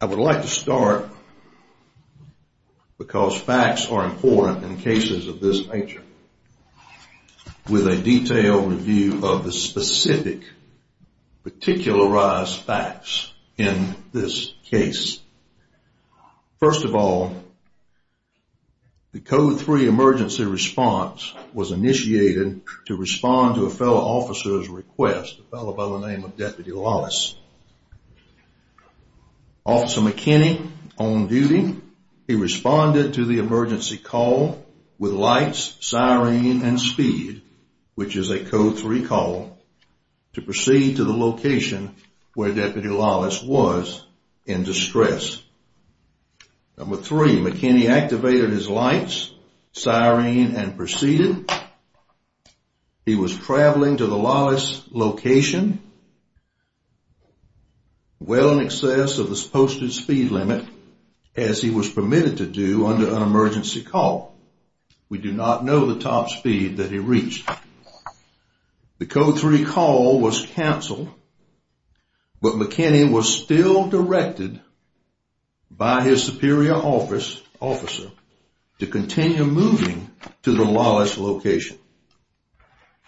I would like to start, because facts are important in cases of this nature, with a detailed review of the specific particularized facts in this case. First of all, the Code 3 emergency response was initiated to respond to a fellow officer's request, a fellow by the name of Deputy Lawless. Officer McKinney, on duty, responded to the emergency call with lights, siren, and speed, which is a Code 3 call, to proceed to the location where Deputy Lawless was in distress. Number three, McKinney activated his lights, siren, and proceeded. He was traveling to the Lawless location, well in excess of the posted speed limit, as he was permitted to do under an emergency call. We do not know the top speed that he reached. The Code 3 call was canceled, but McKinney was still directed by his superior officer to continue moving to the Lawless location.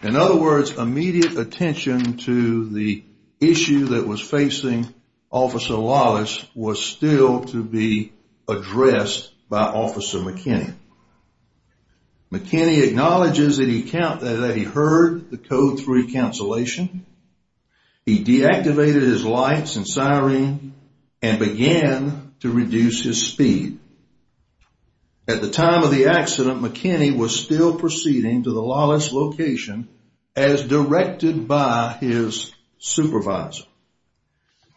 In other words, immediate attention to the issue that was facing Officer Lawless was still to be addressed by Officer McKinney. McKinney acknowledges that he heard the Code 3 cancellation. He deactivated his lights and siren and began to reduce his speed. At the time of the accident, McKinney was still proceeding to the Lawless location as directed by his supervisor.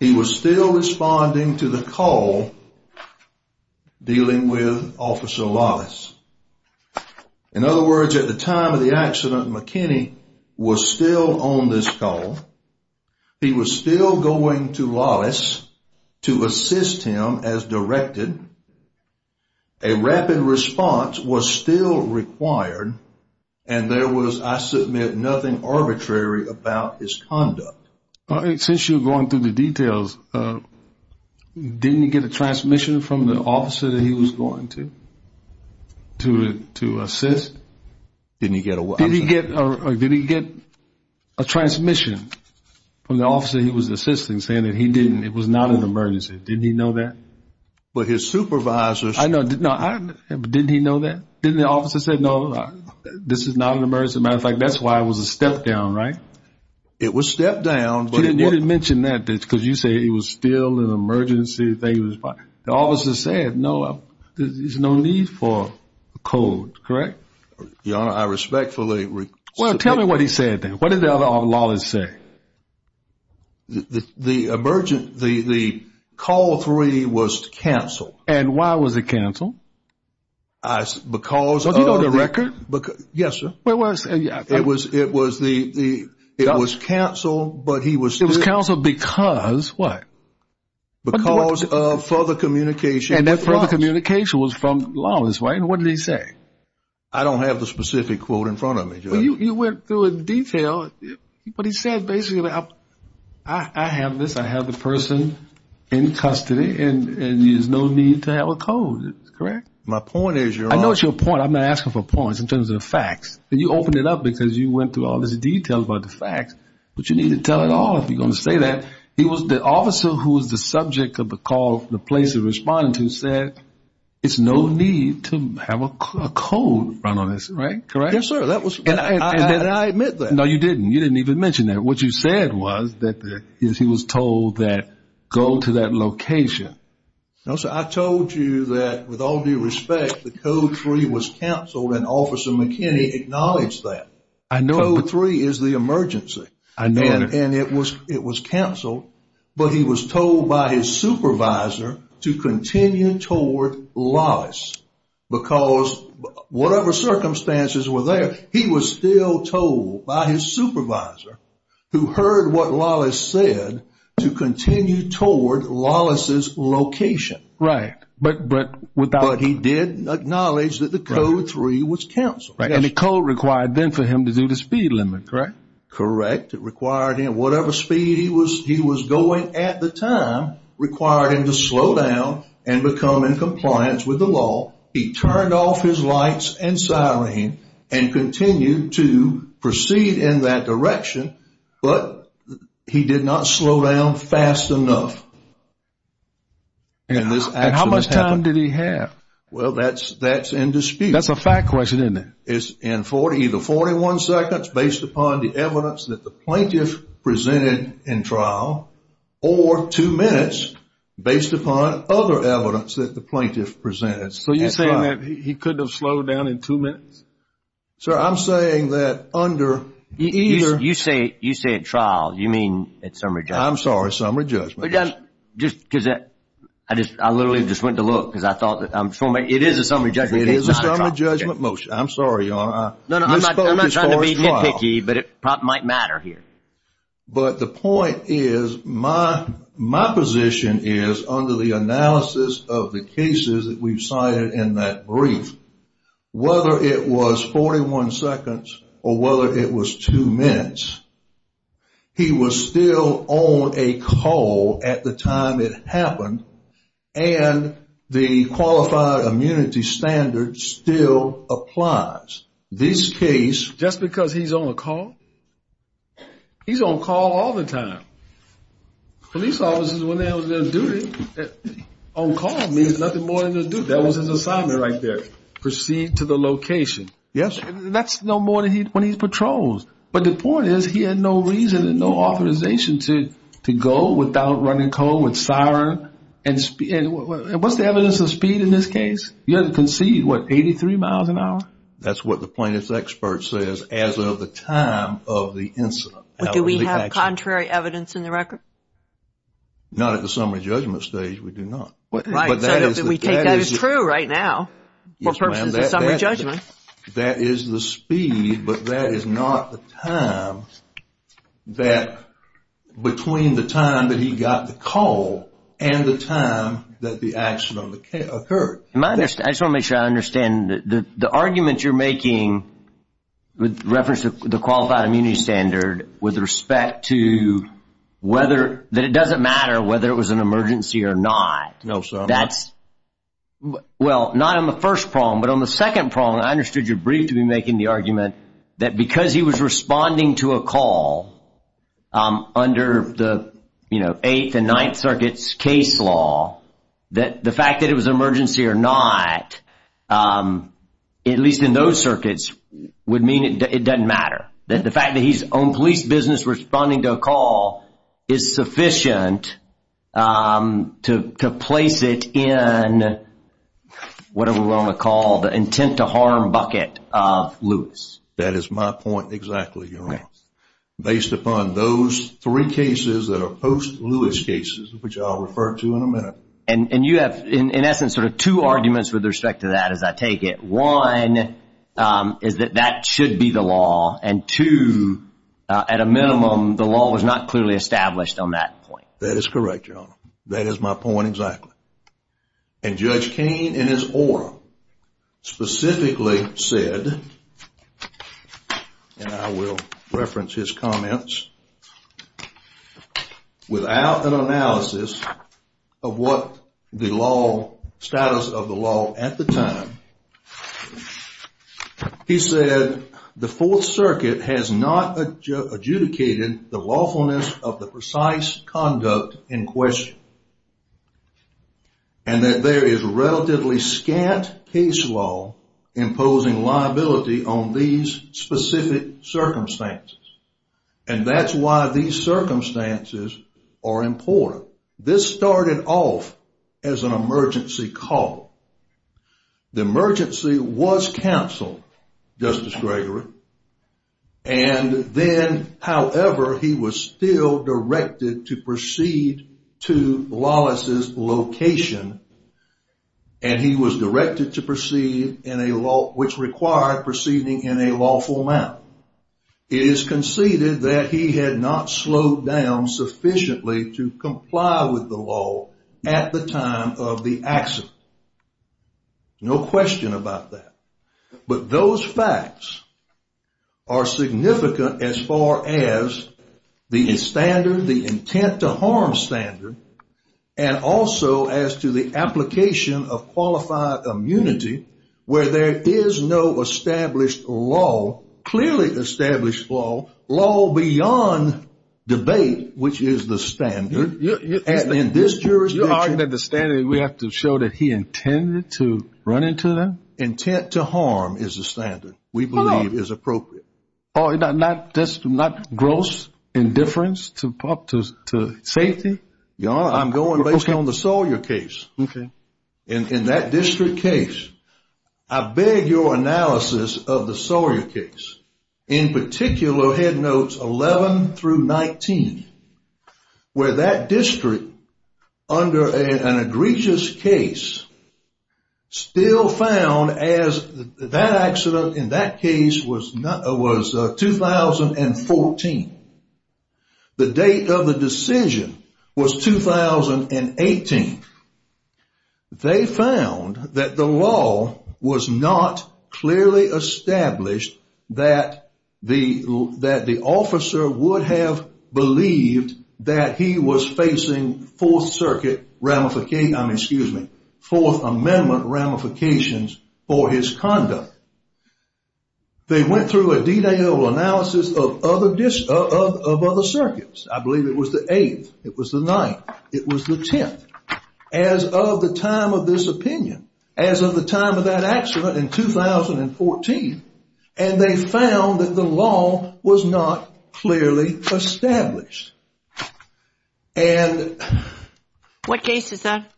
He was still responding to the call dealing with Officer Lawless. In other words, at the time of the accident, McKinney was still on this call. He was still going to Lawless to assist him as directed. A rapid response was still required, and there was, I submit, nothing arbitrary about his conduct. Since you're going through the details, didn't he get a transmission from the officer that he was going to, to assist? Didn't he get a what? Did he get a transmission from the officer he was assisting, saying that he didn't, it was not an emergency? Didn't he know that? But his supervisor said... I know, but didn't he know that? Didn't the officer say, no, this is not an emergency? As a matter of fact, that's why it was a step down, right? It was a step down, but... You didn't mention that, because you say it was still an emergency. The officer said, no, there's no need for a code, correct? Your Honor, I respectfully... Well, tell me what he said then. What did the other Lawless say? The call for reading was to cancel. And why was it canceled? Because of... Do you know the record? Yes, sir. It was canceled, but he was... It was canceled because, what? Because of further communication. And that further communication was from Lawless, right? And what did he say? I don't have the specific quote in front of me, Judge. Well, you went through it in detail, but he said basically, I have this, I have the person in custody, and there's no need to have a code, correct? My point is, Your Honor... I know it's your point. I'm not asking for points in terms of facts. You opened it up because you went through all this detail about the facts, but you need to tell it all if you're going to say that. The officer who was the subject of the call, the place he was responding to, said, it's no need to have a code run on this, correct? Yes, sir. And did I admit that? No, you didn't. You didn't even mention that. What you said was that he was told that go to that location. No, sir. I told you that, with all due respect, the Code 3 was canceled, and Officer McKinney acknowledged that. I know, but... Code 3 is the emergency. I know. And it was canceled, but he was told by his supervisor to continue toward Lawless, because whatever circumstances were there, he was still told by his supervisor, who heard what Lawless said, to continue toward Lawless's location. Right. But without... But he did acknowledge that the Code 3 was canceled. And the code required then for him to do the speed limit, correct? Correct. It required him, whatever speed he was going at the time, required him to slow down and become in compliance with the law. He turned off his lights and siren and continued to proceed in that direction, but he did not slow down fast enough. And how much time did he have? Well, that's in dispute. That's a fact question, isn't it? Either 41 seconds, based upon the evidence that the plaintiff presented in trial, or two minutes, based upon other evidence that the plaintiff presented. So you're saying that he couldn't have slowed down in two minutes? Sir, I'm saying that under either... You say at trial. You mean at summary judgment. I'm sorry. Summary judgment. I literally just went to look, because I thought... It is a summary judgment case, not a trial case. It is a summary judgment motion. I'm sorry, Your Honor. I'm not trying to be nitpicky, but it might matter here. But the point is, my position is, under the analysis of the cases that we've cited in that brief, whether it was 41 seconds or whether it was two minutes, he was still on a call at the time it happened, and the qualified immunity standard still applies. This case... Just because he's on a call? He's on call all the time. Police officers, when they're on duty, on call means nothing more than their duty. That was his assignment right there. Proceed to the location. Yes. That's no more than when he patrols. But the point is, he had no reason and no authorization to go without running code, with siren. And what's the evidence of speed in this case? You had to concede, what, 83 miles an hour? That's what the plaintiff's expert says, as of the time of the incident. Do we have contrary evidence in the record? Not at the summary judgment stage, we do not. Right. That is true right now, for purposes of summary judgment. That is the speed, but that is not the time that, between the time that he got the call and the time that the accident occurred. I just want to make sure I understand. The argument you're making, with reference to the qualified immunity standard, with respect to whether... That it doesn't matter whether it was an emergency or not. No, sir. That's... Well, not on the first prong, but on the second prong. I understood your brief to be making the argument that because he was responding to a call, under the Eighth and Ninth Circuits case law, that the fact that it was an emergency or not, at least in those circuits, would mean it doesn't matter. That the fact that he's owned police business responding to a call is sufficient to place it in, whatever we want to call it, the intent to harm bucket of Lewis. That is my point exactly, Your Honor. Based upon those three cases that are post-Lewis cases, which I'll refer to in a minute. And you have, in essence, sort of two arguments with respect to that, as I take it. One is that that should be the law, and two, at a minimum, the law was not clearly established on that point. That is correct, Your Honor. That is my point exactly. And Judge Kaine, in his oral, specifically said, and I will reference his comments, without an analysis of what the status of the law at the time, he said, the Fourth Circuit has not adjudicated the lawfulness of the precise conduct in question. And that there is relatively scant case law imposing liability on these specific circumstances. And that's why these circumstances are important. This started off as an emergency call. The emergency was canceled, Justice Gregory. And then, however, he was still directed to proceed to Lawless's location. And he was directed to proceed in a law, which required proceeding in a lawful manner. It is conceded that he had not slowed down sufficiently to comply with the law at the time of the accident. No question about that. But those facts are significant as far as the standard, the intent to harm standard, and also as to the application of qualified immunity, where there is no established law, clearly established law, law beyond debate, which is the standard. You're arguing that the standard, we have to show that he intended to run into them? Intent to harm is the standard we believe is appropriate. Oh, not gross indifference to safety? Your Honor, I'm going based on the Sawyer case. Okay. In that district case, I beg your analysis of the Sawyer case, in particular, go ahead and note 11 through 19, where that district, under an egregious case, still found as that accident in that case was 2014. The date of the decision was 2018. They found that the law was not clearly established that the officer would have believed that he was facing Fourth Circuit ramification, I mean, excuse me, Fourth Amendment ramifications for his conduct. They went through a detailed analysis of other circuits. I believe it was the 8th. It was the 9th. It was the 10th. As of the time of this opinion, as of the time of that accident in 2014, and they found that the law was not clearly established. And... What case is that?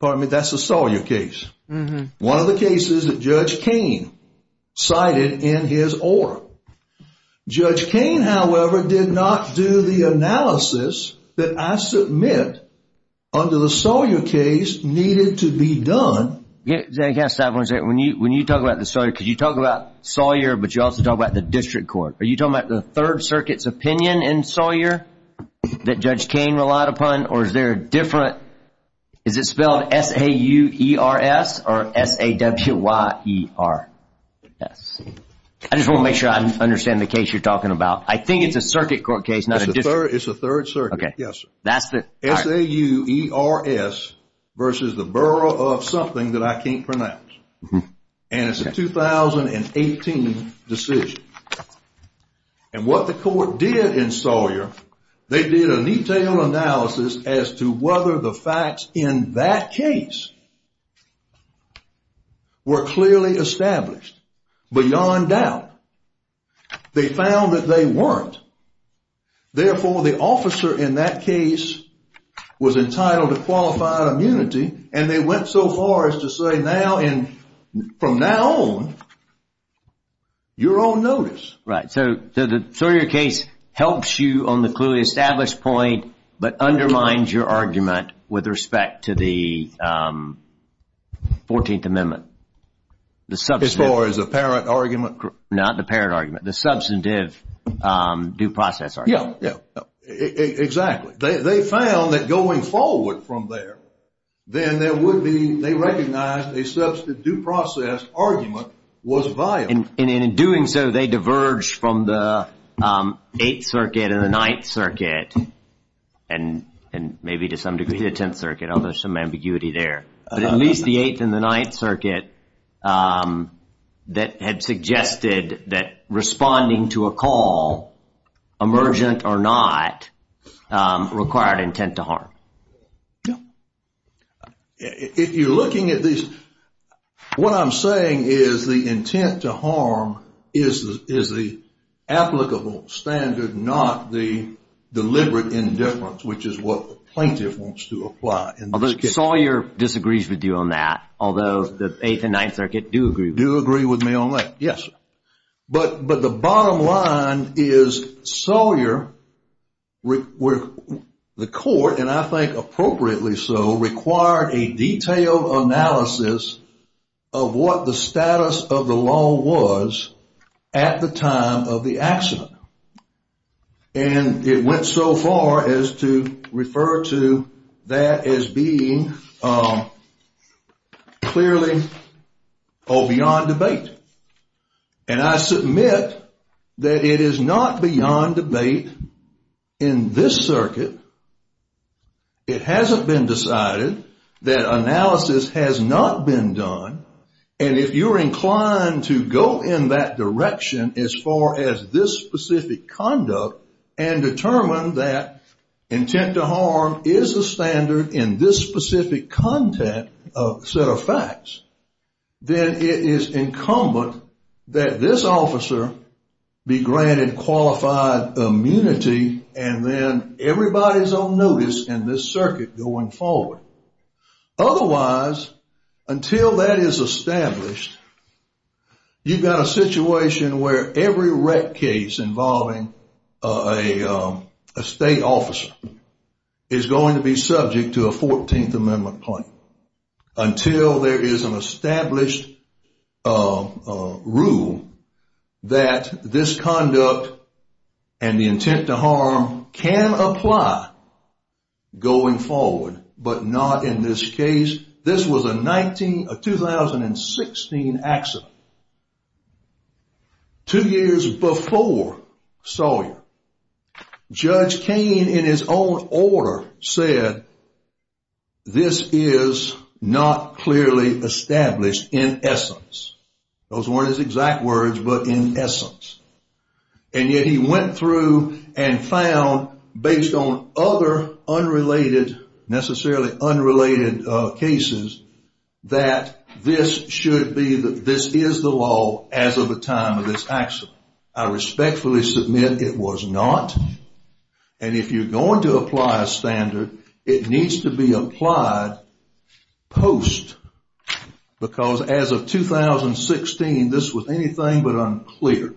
Pardon me, that's the Sawyer case. One of the cases that Judge Kane cited in his oral. Judge Kane, however, did not do the analysis that I submit, under the Sawyer case, needed to be done. Yes, I want to say, when you talk about the Sawyer, because you talk about Sawyer, but you also talk about the district court. Are you talking about the Third Circuit's opinion in Sawyer that Judge Kane relied upon, or is there a different, is it spelled S-A-U-E-R-S or S-A-W-Y-E-R-S? I just want to make sure I understand the case you're talking about. I think it's a circuit court case, not a district. It's the Third Circuit, yes. S-A-U-E-R-S versus the borough of something that I can't pronounce. And it's a 2018 decision. And what the court did in Sawyer, they did a detailed analysis as to whether the facts in that case were clearly established. Beyond doubt, they found that they weren't. Therefore, the officer in that case was entitled to qualified immunity, and they went so far as to say, from now on, you're on notice. Right, so the Sawyer case helps you on the clearly established point, but undermines your argument with respect to the 14th Amendment. As far as the parent argument? Not the parent argument, the substantive due process argument. Yeah, exactly. They found that going forward from there, then there would be, they recognized a substantive due process argument was viable. And in doing so, they diverged from the Eighth Circuit and the Ninth Circuit, and maybe to some degree the Tenth Circuit, although there's some ambiguity there. But at least the Eighth and the Ninth Circuit that had suggested that responding to a call, emergent or not, required intent to harm. Yeah. If you're looking at these, what I'm saying is the intent to harm is the applicable standard, not the deliberate indifference, which is what the plaintiff wants to apply. Although Sawyer disagrees with you on that, although the Eighth and Ninth Circuit do agree with you. Do agree with me on that, yes. But the bottom line is Sawyer, the court, and I think appropriately so, required a detailed analysis of what the status of the law was at the time of the accident. And it went so far as to refer to that as being clearly beyond debate. And I submit that it is not beyond debate in this circuit. It hasn't been decided. That analysis has not been done. And if you're inclined to go in that direction as far as this specific conduct and determine that intent to harm is the standard in this specific content set of facts, then it is incumbent that this officer be granted qualified immunity and then everybody's on notice in this circuit going forward. Otherwise, until that is established, you've got a situation where every rec case involving a state officer is going to be subject to a Fourteenth Amendment claim until there is an established rule that this conduct and the intent to harm can apply going forward, but not in this case. This was a 2016 accident. Two years before Sawyer, Judge Kaine, in his own order, said this is not clearly established in essence. Those weren't his exact words, but in essence. And yet he went through and found, based on other unrelated, necessarily unrelated cases, that this should be, that this is the law as of the time of this accident. I respectfully submit it was not. And if you're going to apply a standard, it needs to be applied post. Because as of 2016, this was anything but unclear.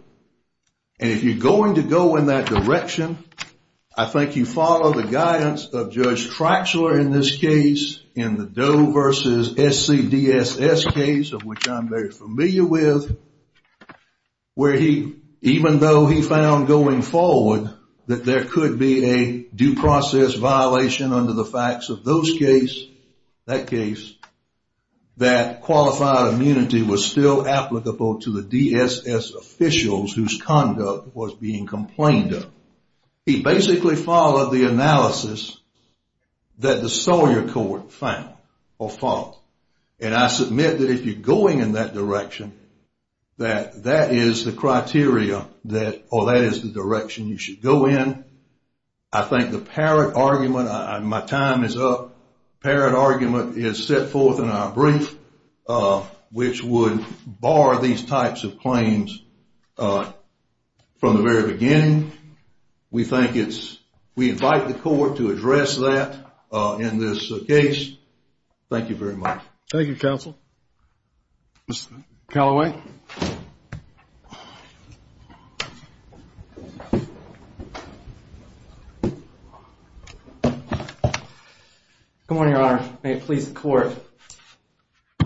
And if you're going to go in that direction, I think you follow the guidance of Judge Tratchler in this case, in the Doe versus SCDSS case, of which I'm very familiar with, where he, even though he found going forward that there could be a due process violation under the facts of those case, that case, that qualified immunity was still applicable to the DSS officials whose conduct was being complained of. He basically followed the analysis that the Sawyer court found or followed. And I submit that if you're going in that direction, that that is the criteria that, or that is the direction you should go in. I think the Parrott argument, my time is up, Parrott argument is set forth in our brief, which would bar these types of claims from the very beginning. We think it's, we invite the court to address that in this case. Thank you very much. Thank you, counsel. Mr. Callaway. Good morning, Your Honor. May it please the court.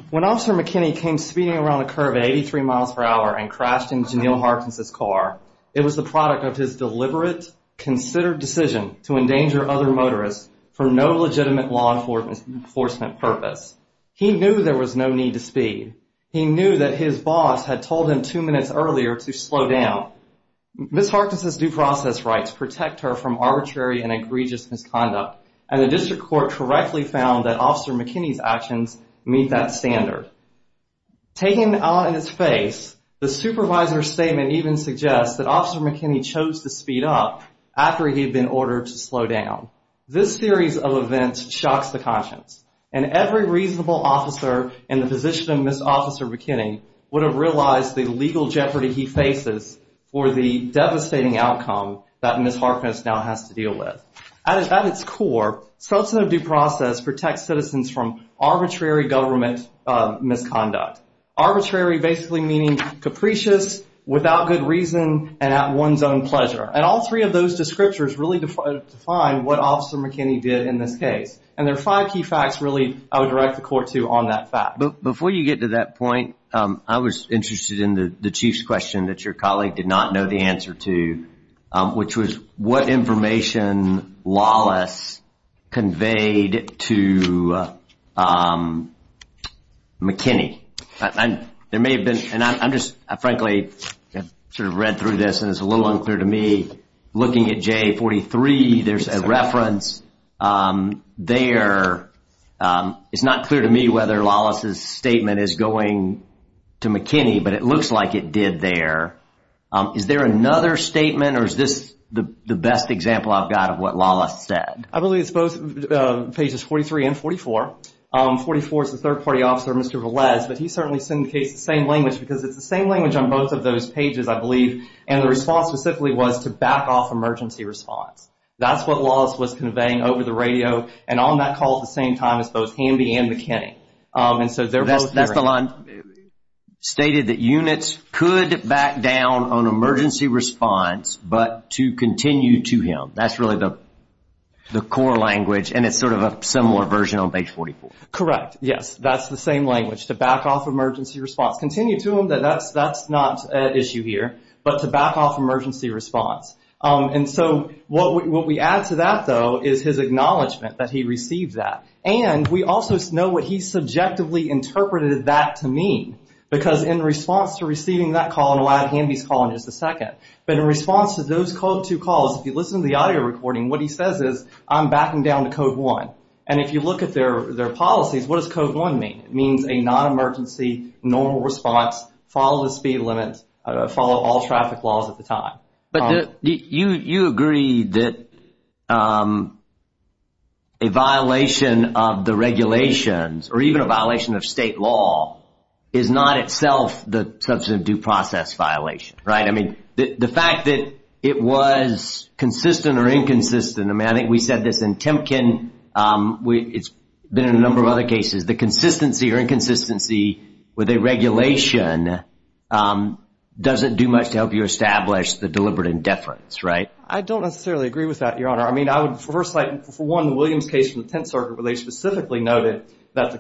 When Officer McKinney came speeding around a curve at 83 miles per hour and crashed into Neil Harkness's car, it was the product of his deliberate, considered decision to endanger other motorists for no legitimate law enforcement purpose. He knew there was no need to speed. He knew that his boss had told him two minutes earlier to slow down. Ms. Harkness's due process rights protect her from arbitrary and egregious misconduct, and the district court correctly found that Officer McKinney's actions meet that standard. Taken on in his face, the supervisor's statement even suggests that Officer McKinney chose to speed up after he had been ordered to slow down. This series of events shocks the conscience, and every reasonable officer in the position of Ms. Officer McKinney would have realized the legal jeopardy he faces for the devastating outcome that Ms. Harkness now has to deal with. At its core, Scottsdale due process protects citizens from arbitrary government misconduct. Arbitrary basically meaning capricious, without good reason, and at one's own pleasure. And all three of those descriptors really define what Officer McKinney did in this case. And there are five key facts, really, I would direct the court to on that fact. Before you get to that point, I was interested in the chief's question that your colleague did not know the answer to, which was what information Lawless conveyed to McKinney. There may have been, and I'm just, I frankly sort of read through this, and it's a little unclear to me, looking at J43, there's a reference there. It's not clear to me whether Lawless's statement is going to McKinney, but it looks like it did there. Is there another statement, or is this the best example I've got of what Lawless said? I believe it's both pages 43 and 44. 44 is the third party officer, Mr. Velez, but he certainly syndicates the same language because it's the same language on both of those pages, I believe, and the response specifically was to back off emergency response. That's what Lawless was conveying over the radio and on that call at the same time as both Hamby and McKinney. That's the line stated that units could back down on emergency response, but to continue to him. That's really the core language, and it's sort of a similar version on page 44. Correct, yes, that's the same language, to back off emergency response. Continue to him, that's not an issue here, but to back off emergency response. What we add to that, though, is his acknowledgment that he received that, and we also know what he subjectively interpreted that to mean because in response to receiving that call, and we'll add Hamby's call in just a second, but in response to those two calls, if you listen to the audio recording, what he says is, I'm backing down to Code 1. If you look at their policies, what does Code 1 mean? It means a non-emergency, normal response, follow the speed limit, follow all traffic laws at the time. You agree that a violation of the regulations, or even a violation of state law, is not itself the substantive due process violation, right? I mean, the fact that it was consistent or inconsistent, I mean, I think we said this in Temkin, it's been in a number of other cases, the consistency or inconsistency with a regulation doesn't do much to help you establish the deliberate indifference, right? I don't necessarily agree with that, Your Honor. I mean, for one, the Williams case from the Tenth Circuit where they specifically noted that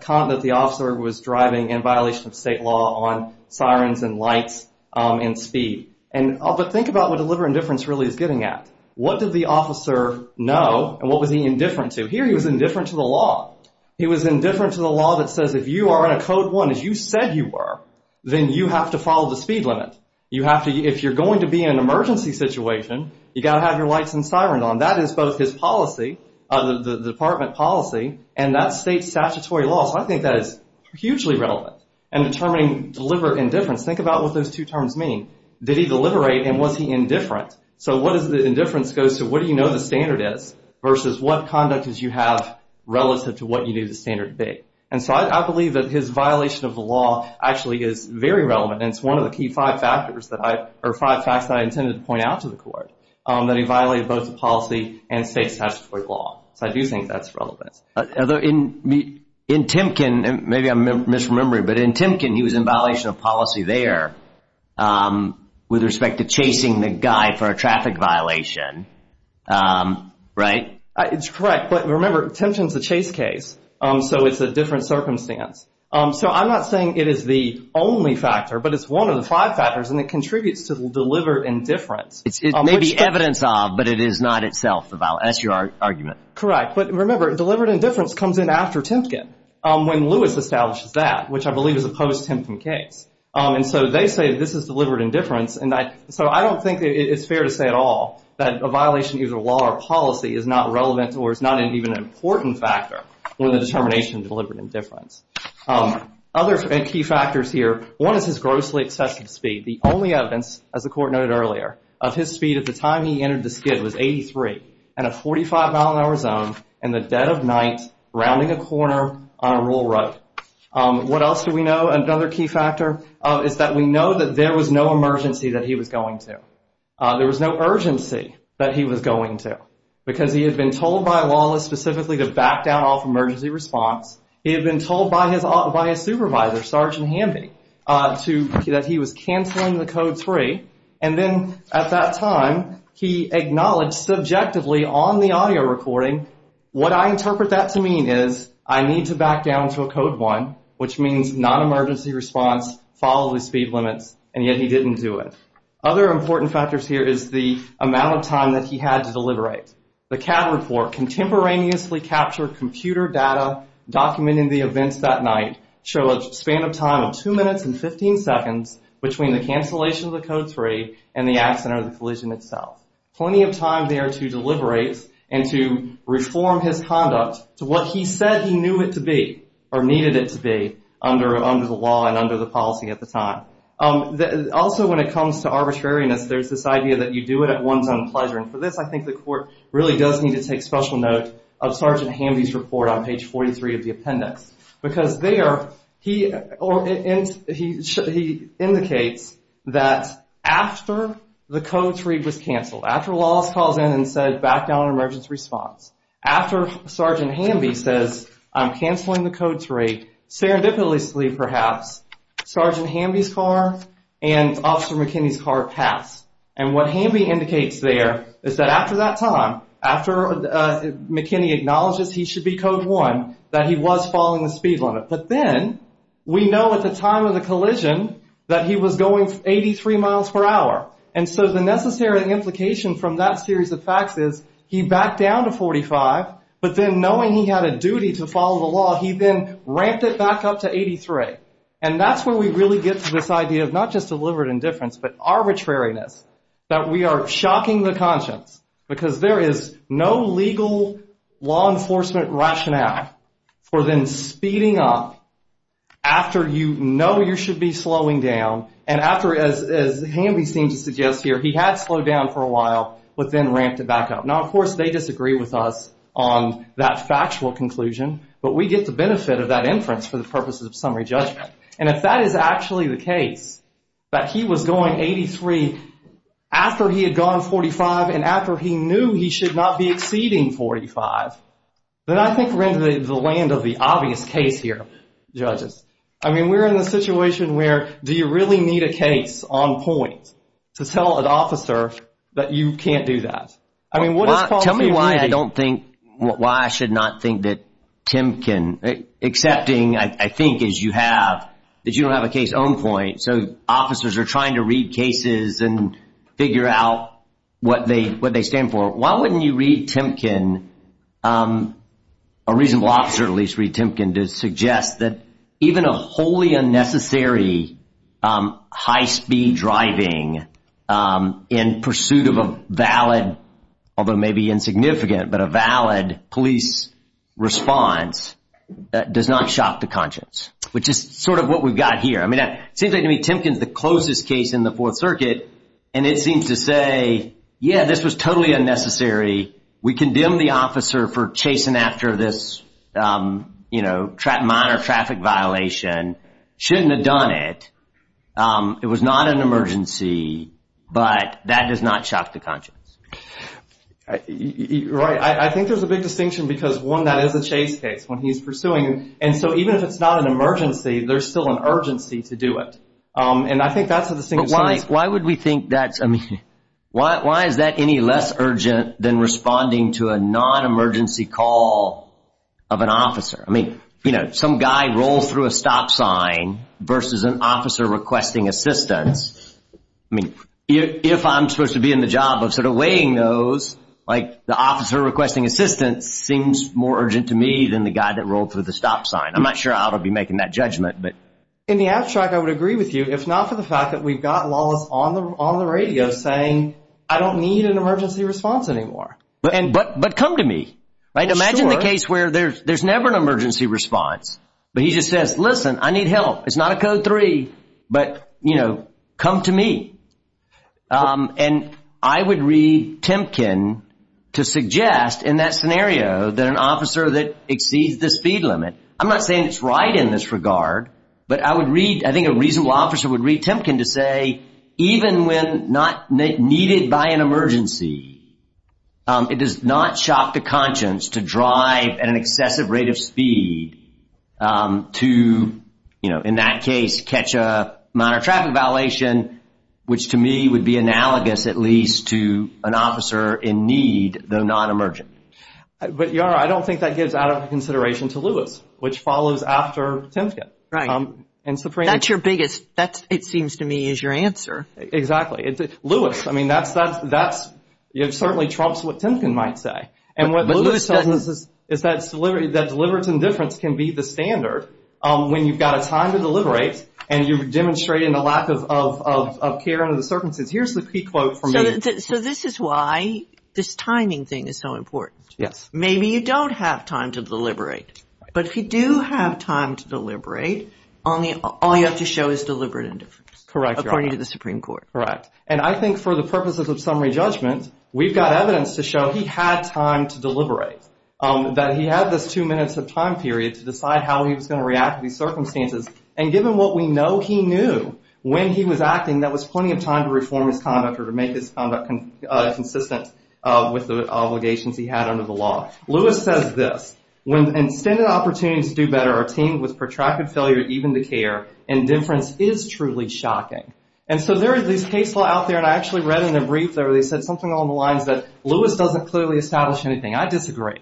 the officer was driving in violation of state law on sirens and lights and speed. But think about what deliberate indifference really is getting at. What did the officer know, and what was he indifferent to? Here he was indifferent to the law. He was indifferent to the law that says if you are in a Code 1 as you said you were, then you have to follow the speed limit. If you're going to be in an emergency situation, you've got to have your lights and sirens on. That is both his policy, the Department policy, and that's state statutory law. So I think that is hugely relevant in determining deliberate indifference. Think about what those two terms mean. Did he deliberate, and was he indifferent? So what is the indifference goes to what do you know the standard is versus what conduct did you have relative to what you knew the standard would be. And so I believe that his violation of the law actually is very relevant, and it's one of the five facts that I intended to point out to the Court, that he violated both the policy and state statutory law. So I do think that's relevant. In Timken, maybe I'm misremembering, but in Timken he was in violation of policy there with respect to chasing the guy for a traffic violation, right? It's correct. But remember, Timken is a chase case, so it's a different circumstance. So I'm not saying it is the only factor, but it's one of the five factors, and it contributes to deliberate indifference. It may be evidence of, but it is not itself a violation. That's your argument. Correct, but remember, deliberate indifference comes in after Timken when Lewis establishes that, which I believe is a post-Timken case. And so they say this is deliberate indifference. So I don't think it's fair to say at all that a violation of either law or policy is not relevant or is not even an important factor when the determination of deliberate indifference. Other key factors here, one is his grossly excessive speed. The only evidence, as the Court noted earlier, of his speed at the time he entered the skid was 83 in a 45-mile-an-hour zone in the dead of night rounding a corner on a rural road. What else do we know? Another key factor is that we know that there was no emergency that he was going to. There was no urgency that he was going to because he had been told by Wallace specifically to back down off emergency response. He had been told by his supervisor, Sergeant Hamby, that he was canceling the Code 3, and then at that time he acknowledged subjectively on the audio recording, what I interpret that to mean is I need to back down to a Code 1, which means non-emergency response, follow the speed limits, and yet he didn't do it. Other important factors here is the amount of time that he had to deliberate. The CAD report contemporaneously captured computer data documenting the events that night show a span of time of 2 minutes and 15 seconds between the cancellation of the Code 3 and the accident or the collision itself. Plenty of time there to deliberate and to reform his conduct to what he said he knew it to be or needed it to be under the law and under the policy at the time. Also when it comes to arbitrariness, there's this idea that you do it at one's own pleasure, and for this I think the court really does need to take special note of Sergeant Hamby's report on page 43 of the appendix because there he indicates that after the Code 3 was canceled, after Wallace calls in and says back down to emergency response, after Sergeant Hamby says I'm canceling the Code 3, serendipitously perhaps, Sergeant Hamby's car and Officer McKinney's car pass. And what Hamby indicates there is that after that time, after McKinney acknowledges he should be Code 1, that he was following the speed limit. But then we know at the time of the collision that he was going 83 miles per hour. And so the necessary implication from that series of facts is he backed down to 45, but then knowing he had a duty to follow the law, he then ramped it back up to 83. And that's where we really get to this idea of not just deliberate indifference but arbitrariness, that we are shocking the conscience because there is no legal law enforcement rationale for then speeding up after you know you should be slowing down and after, as Hamby seems to suggest here, he had slowed down for a while but then ramped it back up. Now, of course, they disagree with us on that factual conclusion, but we get the benefit of that inference for the purposes of summary judgment. And if that is actually the case, that he was going 83 after he had gone 45 and after he knew he should not be exceeding 45, then I think we're in the land of the obvious case here, judges. I mean, we're in a situation where do you really need a case on point to tell an officer that you can't do that? Tell me why I should not think that Timken, excepting, I think, as you have, that you don't have a case on point, so officers are trying to read cases and figure out what they stand for. Why wouldn't you read Timken, a reasonable officer at least, read Timken, to suggest that even a wholly unnecessary high-speed driving in pursuit of a valid, although maybe insignificant, but a valid police response does not shock the conscience, which is sort of what we've got here. I mean, it seems like to me Timken's the closest case in the Fourth Circuit and it seems to say, yeah, this was totally unnecessary, we condemn the officer for chasing after this minor traffic violation, shouldn't have done it, it was not an emergency, but that does not shock the conscience. Right, I think there's a big distinction because one, that is a chase case when he's pursuing, and so even if it's not an emergency, there's still an urgency to do it, and I think that's the distinction. But why would we think that's, I mean, why is that any less urgent than responding to a non-emergency call of an officer? I mean, you know, some guy rolls through a stop sign versus an officer requesting assistance. I mean, if I'm supposed to be in the job of sort of weighing those, like the officer requesting assistance seems more urgent to me than the guy that rolled through the stop sign. I'm not sure how to be making that judgment. In the abstract, I would agree with you, if not for the fact that we've got Lawless on the radio saying, I don't need an emergency response anymore. But come to me. Imagine the case where there's never an emergency response, but he just says, listen, I need help. It's not a Code 3, but, you know, come to me. And I would read Temkin to suggest in that scenario that an officer that exceeds the speed limit, I'm not saying it's right in this regard, but I would read, I think a reasonable officer would read Temkin to say, even when not needed by an emergency, it does not shock the conscience to drive at an excessive rate of speed to, you know, in that case, catch a minor traffic violation, which to me would be analogous at least to an officer in need, though not emergent. But, Yara, I don't think that gives out of consideration to Lewis, which follows after Temkin. Right. That's your biggest, it seems to me, is your answer. Exactly. Lewis, I mean, that certainly trumps what Temkin might say. And what Lewis says is that deliberate indifference can be the standard when you've got a time to deliberate and you're demonstrating a lack of care under the circumstances. Here's the pre-quote from me. So this is why this timing thing is so important. Yes. Maybe you don't have time to deliberate, but if you do have time to deliberate, all you have to show is deliberate indifference. Correct, Yara. According to the Supreme Court. Correct. And I think for the purposes of summary judgment, we've got evidence to show he had time to deliberate, that he had this two minutes of time period to decide how he was going to react to these circumstances. And given what we know he knew when he was acting, that was plenty of time to reform his conduct or to make his conduct consistent with the obligations he had under the law. Lewis says this. When extended opportunities to do better are teamed with protracted failure to even the care, indifference is truly shocking. And so there is this case law out there, and I actually read in a brief there where they said something along the lines that Lewis doesn't clearly establish anything. I disagree.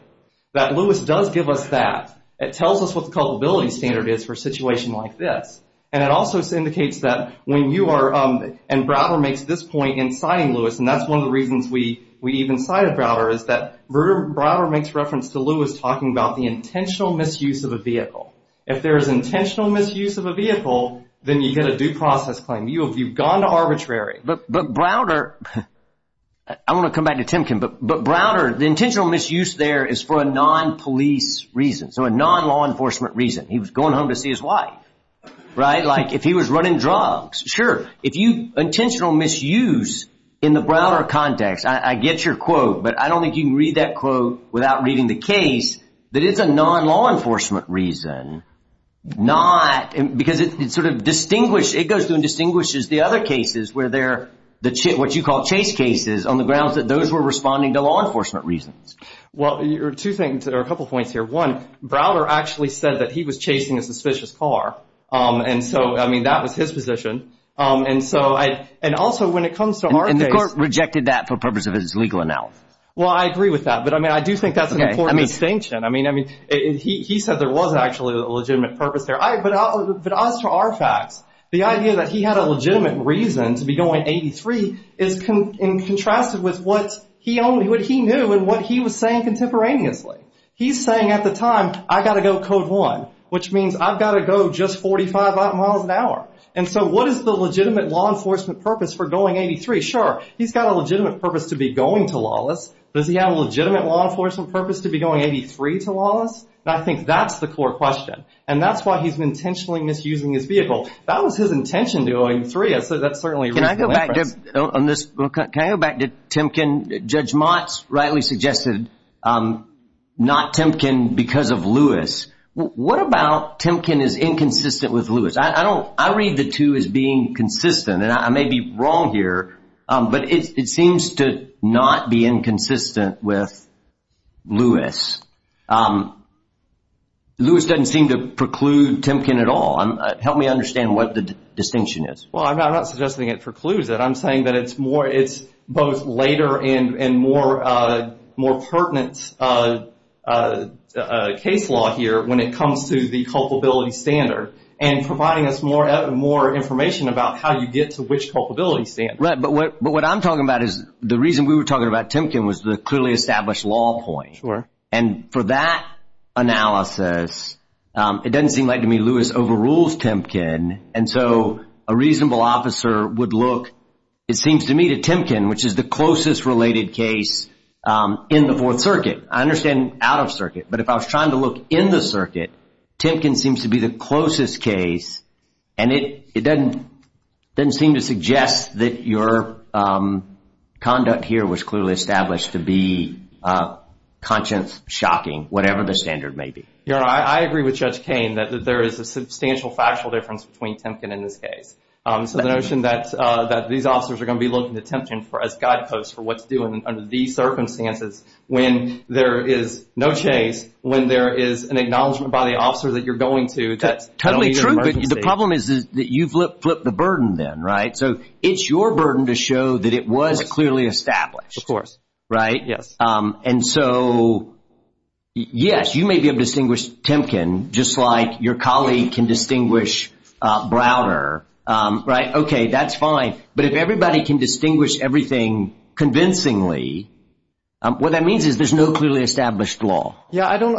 That Lewis does give us that. It tells us what the culpability standard is for a situation like this. And it also indicates that when you are, and Browder makes this point in citing Lewis, and that's one of the reasons we even cited Browder, is that Browder makes reference to Lewis talking about the intentional misuse of a vehicle. If there is intentional misuse of a vehicle, then you get a due process claim. You've gone to arbitrary. But Browder, I want to come back to Timken, but Browder, the intentional misuse there is for a non-police reason, so a non-law enforcement reason. He was going home to see his wife. Right? Like, if he was running drugs. Sure. If you, intentional misuse in the Browder context, I get your quote, but I don't think you can read that quote without reading the case, that it's a non-law enforcement reason. Not, because it sort of distinguishes, it goes through and distinguishes the other cases where they're, what you call chase cases, on the grounds that those were responding to law enforcement reasons. Well, two things, or a couple points here. One, Browder actually said that he was chasing a suspicious car. And so, I mean, that was his position. And so I, and also when it comes to our case. And the court rejected that for the purpose of his legal analysis. Well, I agree with that. But I mean, I do think that's an important distinction. I mean, he said there was actually a legitimate purpose there. But as for our facts, the idea that he had a legitimate reason to be going 83 is contrasted with what he knew and what he was saying contemporaneously. He's saying at the time, I've got to go code one, which means I've got to go just 45 miles an hour. And so what is the legitimate law enforcement purpose for going 83? Sure, he's got a legitimate purpose to be going to Lawless. Does he have a legitimate law enforcement purpose to be going 83 to Lawless? And I think that's the core question. And that's why he's intentionally misusing his vehicle. That was his intention to go 83. That's certainly a reasonable inference. Can I go back to Timken? Judge Motz rightly suggested not Timken because of Lewis. What about Timken is inconsistent with Lewis? I read the two as being consistent. And I may be wrong here, but it seems to not be inconsistent with Lewis. Lewis doesn't seem to preclude Timken at all. Help me understand what the distinction is. Well, I'm not suggesting it precludes it. I'm saying that it's both later and more pertinent case law here when it comes to the culpability standard and providing us more information about how you get to which culpability standard. Right, but what I'm talking about is the reason we were talking about Timken was the clearly established law point. And for that analysis, it doesn't seem like to me Lewis overrules Timken. And so a reasonable officer would look, it seems to me, to Timken, which is the closest related case in the Fourth Circuit. I understand out of circuit, but if I was trying to look in the circuit, Timken seems to be the closest case. And it doesn't seem to suggest that your conduct here was clearly established to be conscience-shocking, whatever the standard may be. Your Honor, I agree with Judge Kain that there is a substantial factual difference between Timken and this case. So the notion that these officers are going to be looking to Timken as guideposts for what to do under these circumstances when there is no chase, when there is an acknowledgment by the officer that you're going to. That's totally true, but the problem is that you've flipped the burden then, right? So it's your burden to show that it was clearly established. Of course. Right? Yes. And so, yes, you may be able to distinguish Timken, just like your colleague can distinguish Browder, right? Okay, that's fine. But if everybody can distinguish everything convincingly, what that means is there's no clearly established law. Yeah, I don't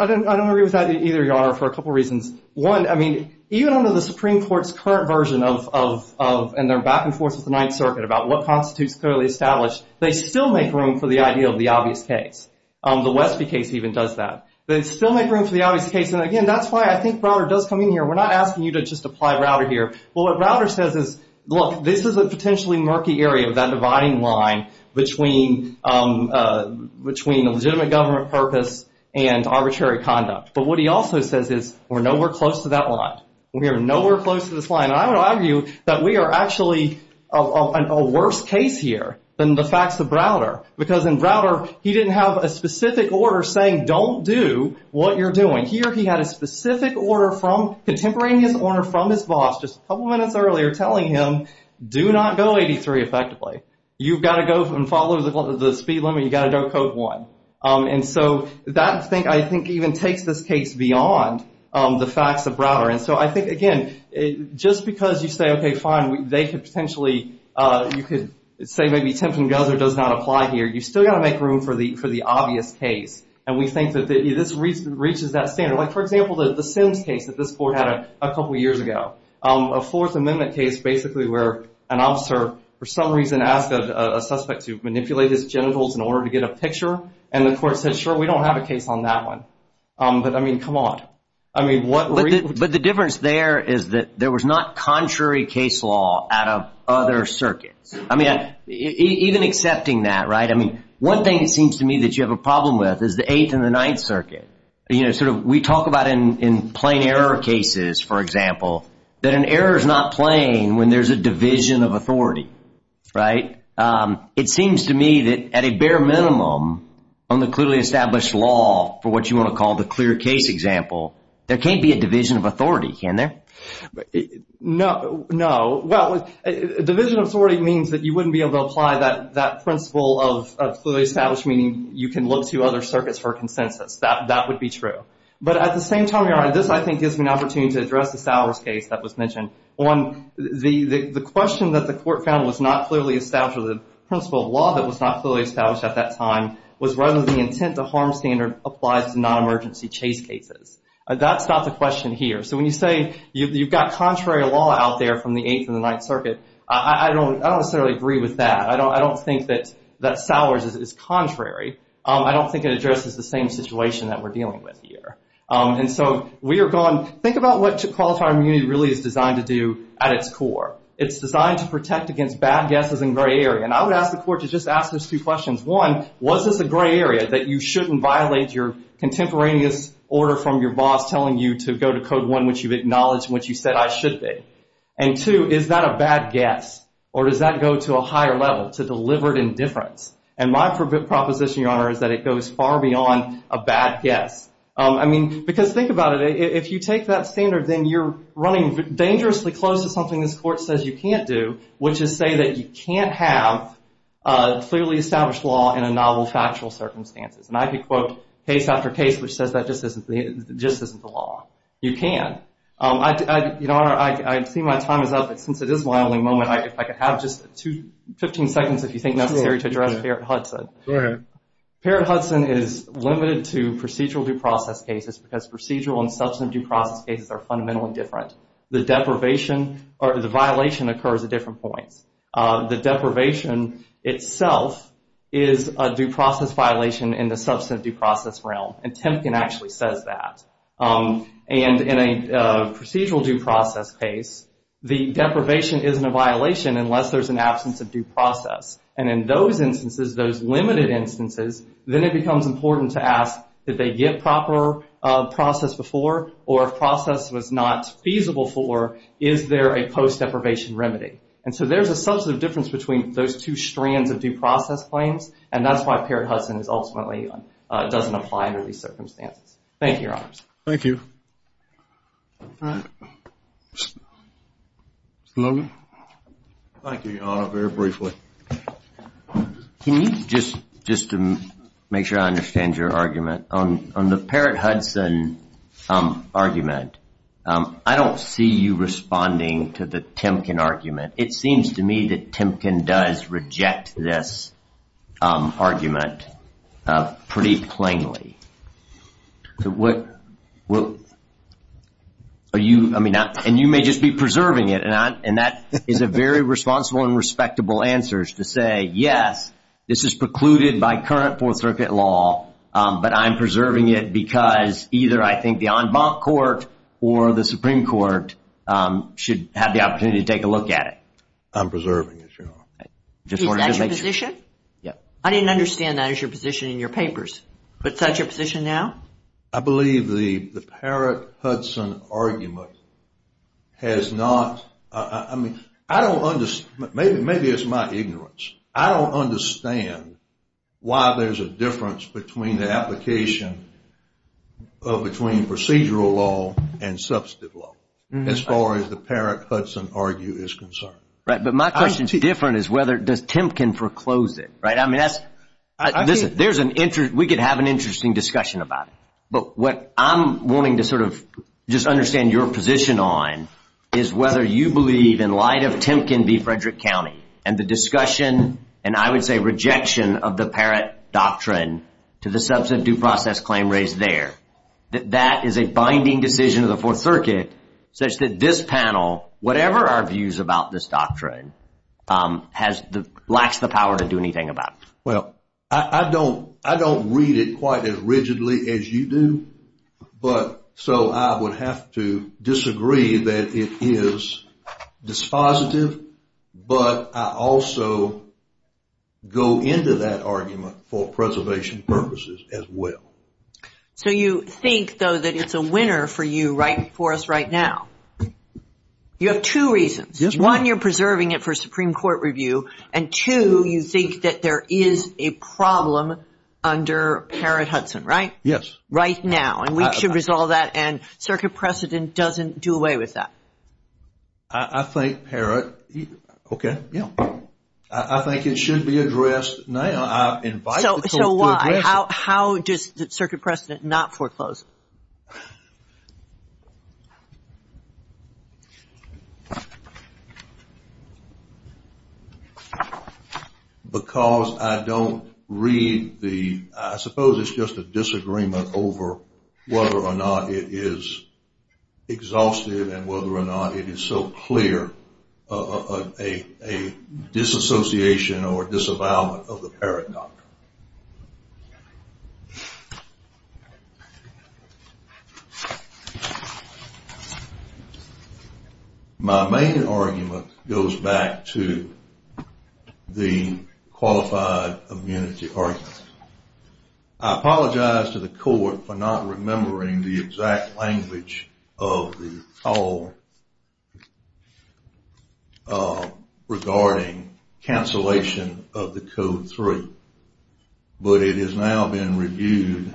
agree with that either, Your Honor, for a couple reasons. One, I mean, even under the Supreme Court's current version of and their back and forth with the Ninth Circuit about what constitutes clearly established, they still make room for the idea of the obvious case. The Westby case even does that. They still make room for the obvious case, and, again, that's why I think Browder does come in here. We're not asking you to just apply Browder here. Well, what Browder says is, look, this is a potentially murky area of that dividing line between a legitimate government purpose and arbitrary conduct. But what he also says is we're nowhere close to that line. We are nowhere close to this line. And I would argue that we are actually in a worse case here than the facts of Browder because in Browder he didn't have a specific order saying don't do what you're doing. Here he had a specific order from contemporaneous order from his boss just a couple minutes earlier telling him do not go 83 effectively. You've got to go and follow the speed limit. You've got to go code 1. And so that, I think, even takes this case beyond the facts of Browder. And so I think, again, just because you say, okay, fine, they could potentially, you could say maybe Temp and Guzzard does not apply here, you've still got to make room for the obvious case. And we think that this reaches that standard. Like, for example, the Sims case that this court had a couple years ago, a Fourth Amendment case basically where an officer for some reason asked a suspect to manipulate his genitals in order to get a picture, and the court said, sure, we don't have a case on that one. But, I mean, come on. But the difference there is that there was not contrary case law out of other circuits. I mean, even accepting that, right, I mean, one thing it seems to me that you have a problem with is the Eighth and the Ninth Circuit. You know, sort of we talk about in plain error cases, for example, that an error is not plain when there's a division of authority, right? It seems to me that at a bare minimum on the clearly established law for what you want to call the clear case example, there can't be a division of authority, can there? No. Well, division of authority means that you wouldn't be able to apply that principle of clearly established, meaning you can look to other circuits for consensus. That would be true. But at the same time, Your Honor, this, I think, gives me an opportunity to address the Sowers case that was mentioned. One, the question that the court found was not clearly established or the principle of law that was not clearly established at that time was whether the intent to harm standard applies to non-emergency chase cases. That's not the question here. So when you say you've got contrary law out there from the Eighth and the Ninth Circuit, I don't necessarily agree with that. I don't think that Sowers is contrary. I don't think it addresses the same situation that we're dealing with here. And so we are going, think about what Qualified Immunity really is designed to do at its core. It's designed to protect against bad guesses in gray area. And I would ask the court to just ask those two questions. One, was this a gray area that you shouldn't violate your contemporaneous order from your boss telling you to go to Code 1, which you've acknowledged, which you said I should be? And two, is that a bad guess or does that go to a higher level to deliver indifference? And my proposition, Your Honor, is that it goes far beyond a bad guess. I mean, because think about it. If you take that standard, then you're running dangerously close to something this court says you can't do, which is say that you can't have a clearly established law in a novel factual circumstances. And I could quote case after case which says that just isn't the law. You can. Your Honor, I see my time is up, but since it is my only moment, if I could have just 15 seconds, if you think necessary, to address Parrott-Hudson. Go ahead. Parrott-Hudson is limited to procedural due process cases because procedural and substantive due process cases are fundamentally different. The deprivation or the violation occurs at different points. The deprivation itself is a due process violation in the substantive due process realm, and Temkin actually says that. And in a procedural due process case, the deprivation isn't a violation unless there's an absence of due process. And in those instances, those limited instances, then it becomes important to ask did they get proper process before or if process was not feasible for, is there a post-deprivation remedy? And so there's a substantive difference between those two strands of due process claims, and that's why Parrott-Hudson ultimately doesn't apply under these circumstances. Thank you, Your Honors. Thank you. Mr. Logan. Thank you, Your Honor. Very briefly. Just to make sure I understand your argument, on the Parrott-Hudson argument, I don't see you responding to the Temkin argument. It seems to me that Temkin does reject this argument pretty plainly. Are you, I mean, and you may just be preserving it, and that is a very responsible and respectable answer to say, yes, this is precluded by current Fourth Circuit law, but I'm preserving it because either I think the en banc court or the Supreme Court should have the opportunity to take a look at it. I'm preserving it, Your Honor. Is that your position? Yes. I didn't understand that as your position in your papers. But is that your position now? I believe the Parrott-Hudson argument has not, I mean, I don't understand, maybe it's my ignorance. I don't understand why there's a difference between the application of, between procedural law and substantive law, as far as the Parrott-Hudson argument is concerned. Right. But my question is different is whether, does Temkin foreclose it, right? I mean, that's, there's an, we could have an interesting discussion about it. But what I'm wanting to sort of just understand your position on is whether you believe, in light of Temkin v. Frederick County, and the discussion, and I would say rejection of the Parrott doctrine to the substantive due process claim raised there, that that is a binding decision of the Fourth Circuit, such that this panel, whatever our views about this doctrine, lacks the power to do anything about it. Well, I don't read it quite as rigidly as you do, but so I would have to disagree that it is dispositive, but I also go into that argument for preservation purposes as well. So you think, though, that it's a winner for you, right, for us right now. You have two reasons. One, you're preserving it for Supreme Court review, and two, you think that there is a problem under Parrott-Hudson, right? Yes. Right now, and we should resolve that, and Circuit Precedent doesn't do away with that. I think Parrott, okay, yeah. I think it should be addressed now. I invite the Court to address it. So why? How does Circuit Precedent not foreclose? Because I don't read the, I suppose it's just a disagreement over whether or not it is exhaustive and whether or not it is so clear a disassociation or disavowal of the Parrott doctrine. My main argument goes back to the qualified immunity argument. I apologize to the Court for not remembering the exact language of the call regarding cancellation of the Code 3, but it has now been reviewed,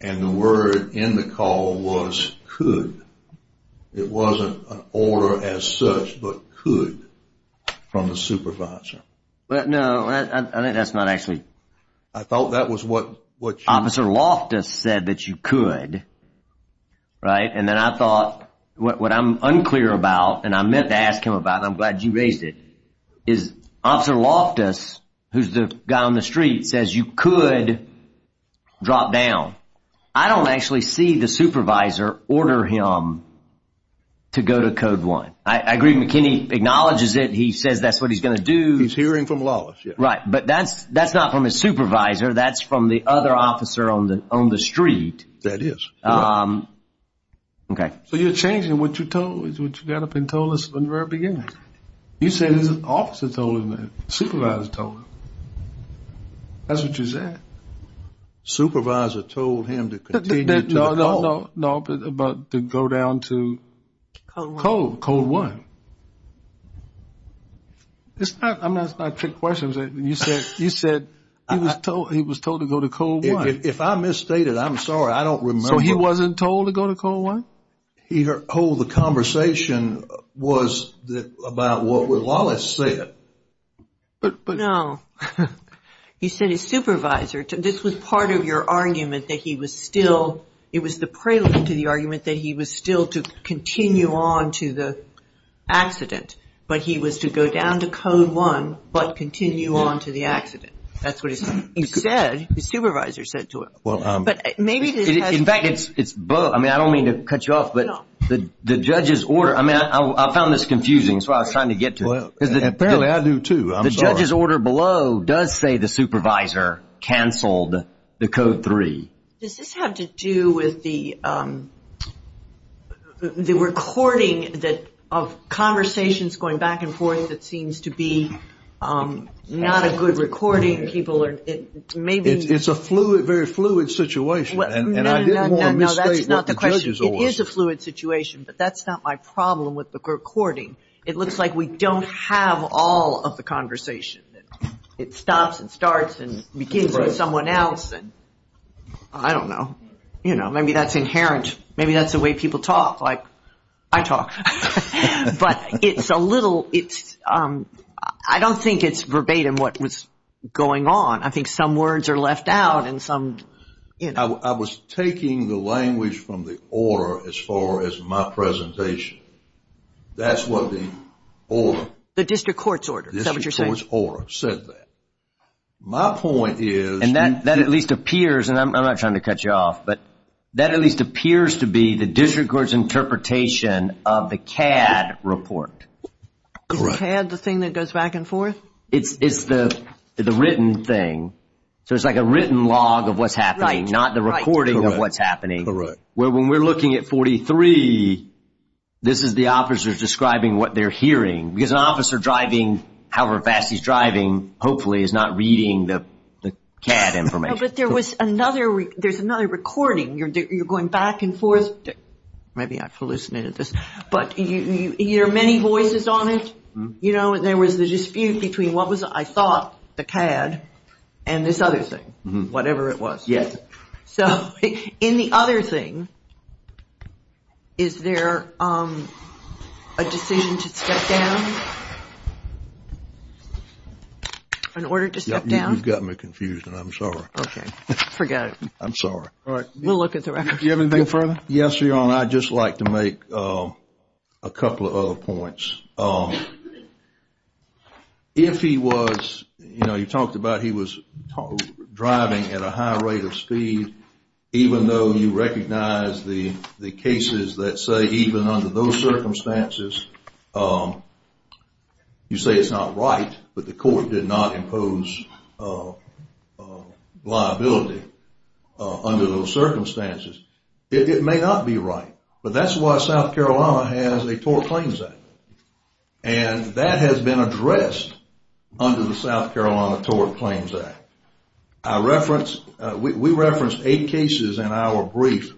and the word in the call was could. It wasn't an order as such, but could from the supervisor. No, I think that's not actually. I thought that was what you said. Officer Loftus said that you could, right? And then I thought, what I'm unclear about, and I meant to ask him about it, and I'm glad you raised it, is Officer Loftus, who's the guy on the street, says you could drop down. I don't actually see the supervisor order him to go to Code 1. I agree McKinney acknowledges it, he says that's what he's going to do. He's hearing from Lawless, yes. Right, but that's not from his supervisor, that's from the other officer on the street. That is. So you're changing what you got up and told us from the very beginning. You said his officer told him that, supervisor told him. That's what you said. Supervisor told him to continue to call. No, but to go down to Code 1. I'm not asking trick questions. You said he was told to go to Code 1. If I misstated, I'm sorry, I don't remember. So he wasn't told to go to Code 1? He told the conversation was about what Lawless said. No, he said his supervisor, this was part of your argument that he was still, it was the prelude to the argument that he was still to continue on to the accident. But he was to go down to Code 1, but continue on to the accident. That's what he said, his supervisor said to him. In fact, I don't mean to cut you off, but the judge's order, I found this confusing so I was trying to get to it. Apparently I do too, I'm sorry. The judge's order below does say the supervisor canceled the Code 3. Does this have to do with the recording of conversations going back and forth that seems to be not a good recording? It's a very fluid situation. No, that's not the question. It is a fluid situation, but that's not my problem with the recording. It looks like we don't have all of the conversation. It stops and starts and begins with someone else. I don't know, maybe that's inherent, maybe that's the way people talk, like I talk. But it's a little, I don't think it's verbatim what was going on. I think some words are left out. I was taking the language from the order as far as my presentation. That's what the order. The district court's order, is that what you're saying? The district court's order said that. My point is. And that at least appears, and I'm not trying to cut you off, but that at least appears to be the district court's interpretation of the CAD report. Correct. Is CAD the thing that goes back and forth? It's the written thing, so it's like a written log of what's happening, not the recording of what's happening. Correct. When we're looking at 43, this is the officers describing what they're hearing. Because an officer driving, however fast he's driving, hopefully is not reading the CAD information. But there's another recording. You're going back and forth. Maybe I've hallucinated this. But you hear many voices on it. There was the dispute between what was, I thought, the CAD, and this other thing, whatever it was. Yes. So in the other thing, is there a decision to step down? An order to step down? You got me confused, and I'm sorry. Okay. Forget it. I'm sorry. We'll look at the record. Do you have anything further? Yes, Your Honor. I'd just like to make a couple of other points. If he was, you know, you talked about he was driving at a high rate of speed, even though you recognize the cases that say even under those circumstances, you say it's not right, but the court did not impose liability under those circumstances. It may not be right. But that's why South Carolina has a Tort Claims Act. And that has been addressed under the South Carolina Tort Claims Act. We referenced eight cases in our brief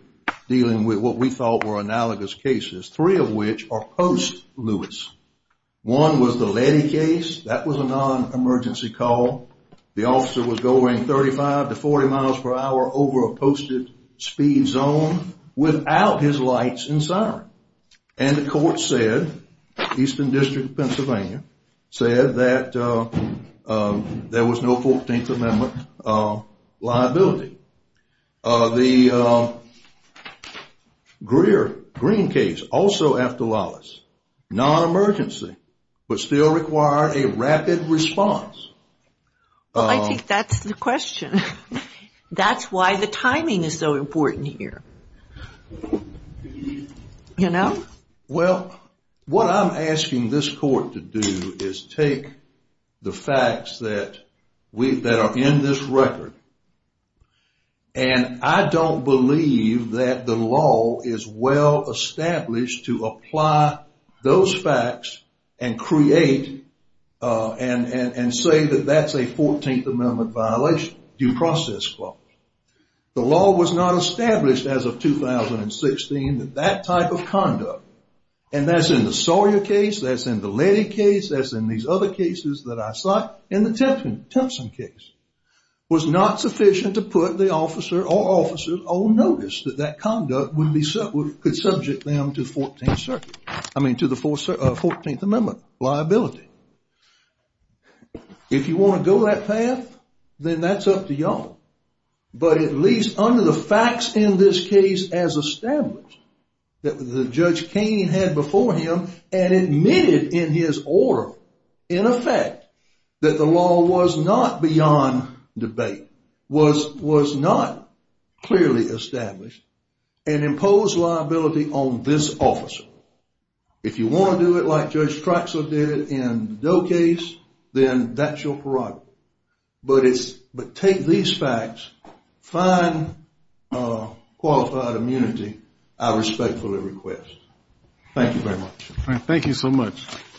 dealing with what we thought were analogous cases, three of which are post-Lewis. One was the Leady case. That was a non-emergency call. The officer was going 35 to 40 miles per hour over a posted speed zone without his lights and siren. And the court said, Eastern District of Pennsylvania, said that there was no 14th Amendment liability. The Greer case, also after Lewis, non-emergency, but still required a rapid response. Well, I think that's the question. That's why the timing is so important here. You know? Well, what I'm asking this court to do is take the facts that are in this record. And I don't believe that the law is well established to apply those facts and create and say that that's a 14th Amendment violation. Due process clause. The law was not established as of 2016 that that type of conduct, and that's in the Sawyer case, that's in the Leady case, that's in these other cases that I cite, and the Tempson case, was not sufficient to put the officer or officers on notice that that conduct could subject them to the 14th Amendment liability. If you want to go that path, then that's up to y'all. But at least under the facts in this case as established, that Judge Kaine had before him and admitted in his order, in effect, that the law was not beyond debate, was not clearly established, and imposed liability on this officer. If you want to do it like Judge Troxler did in the Doe case, then that's your prerogative. But take these facts, find qualified immunity, I respectfully request. Thank you very much. Thank you so much.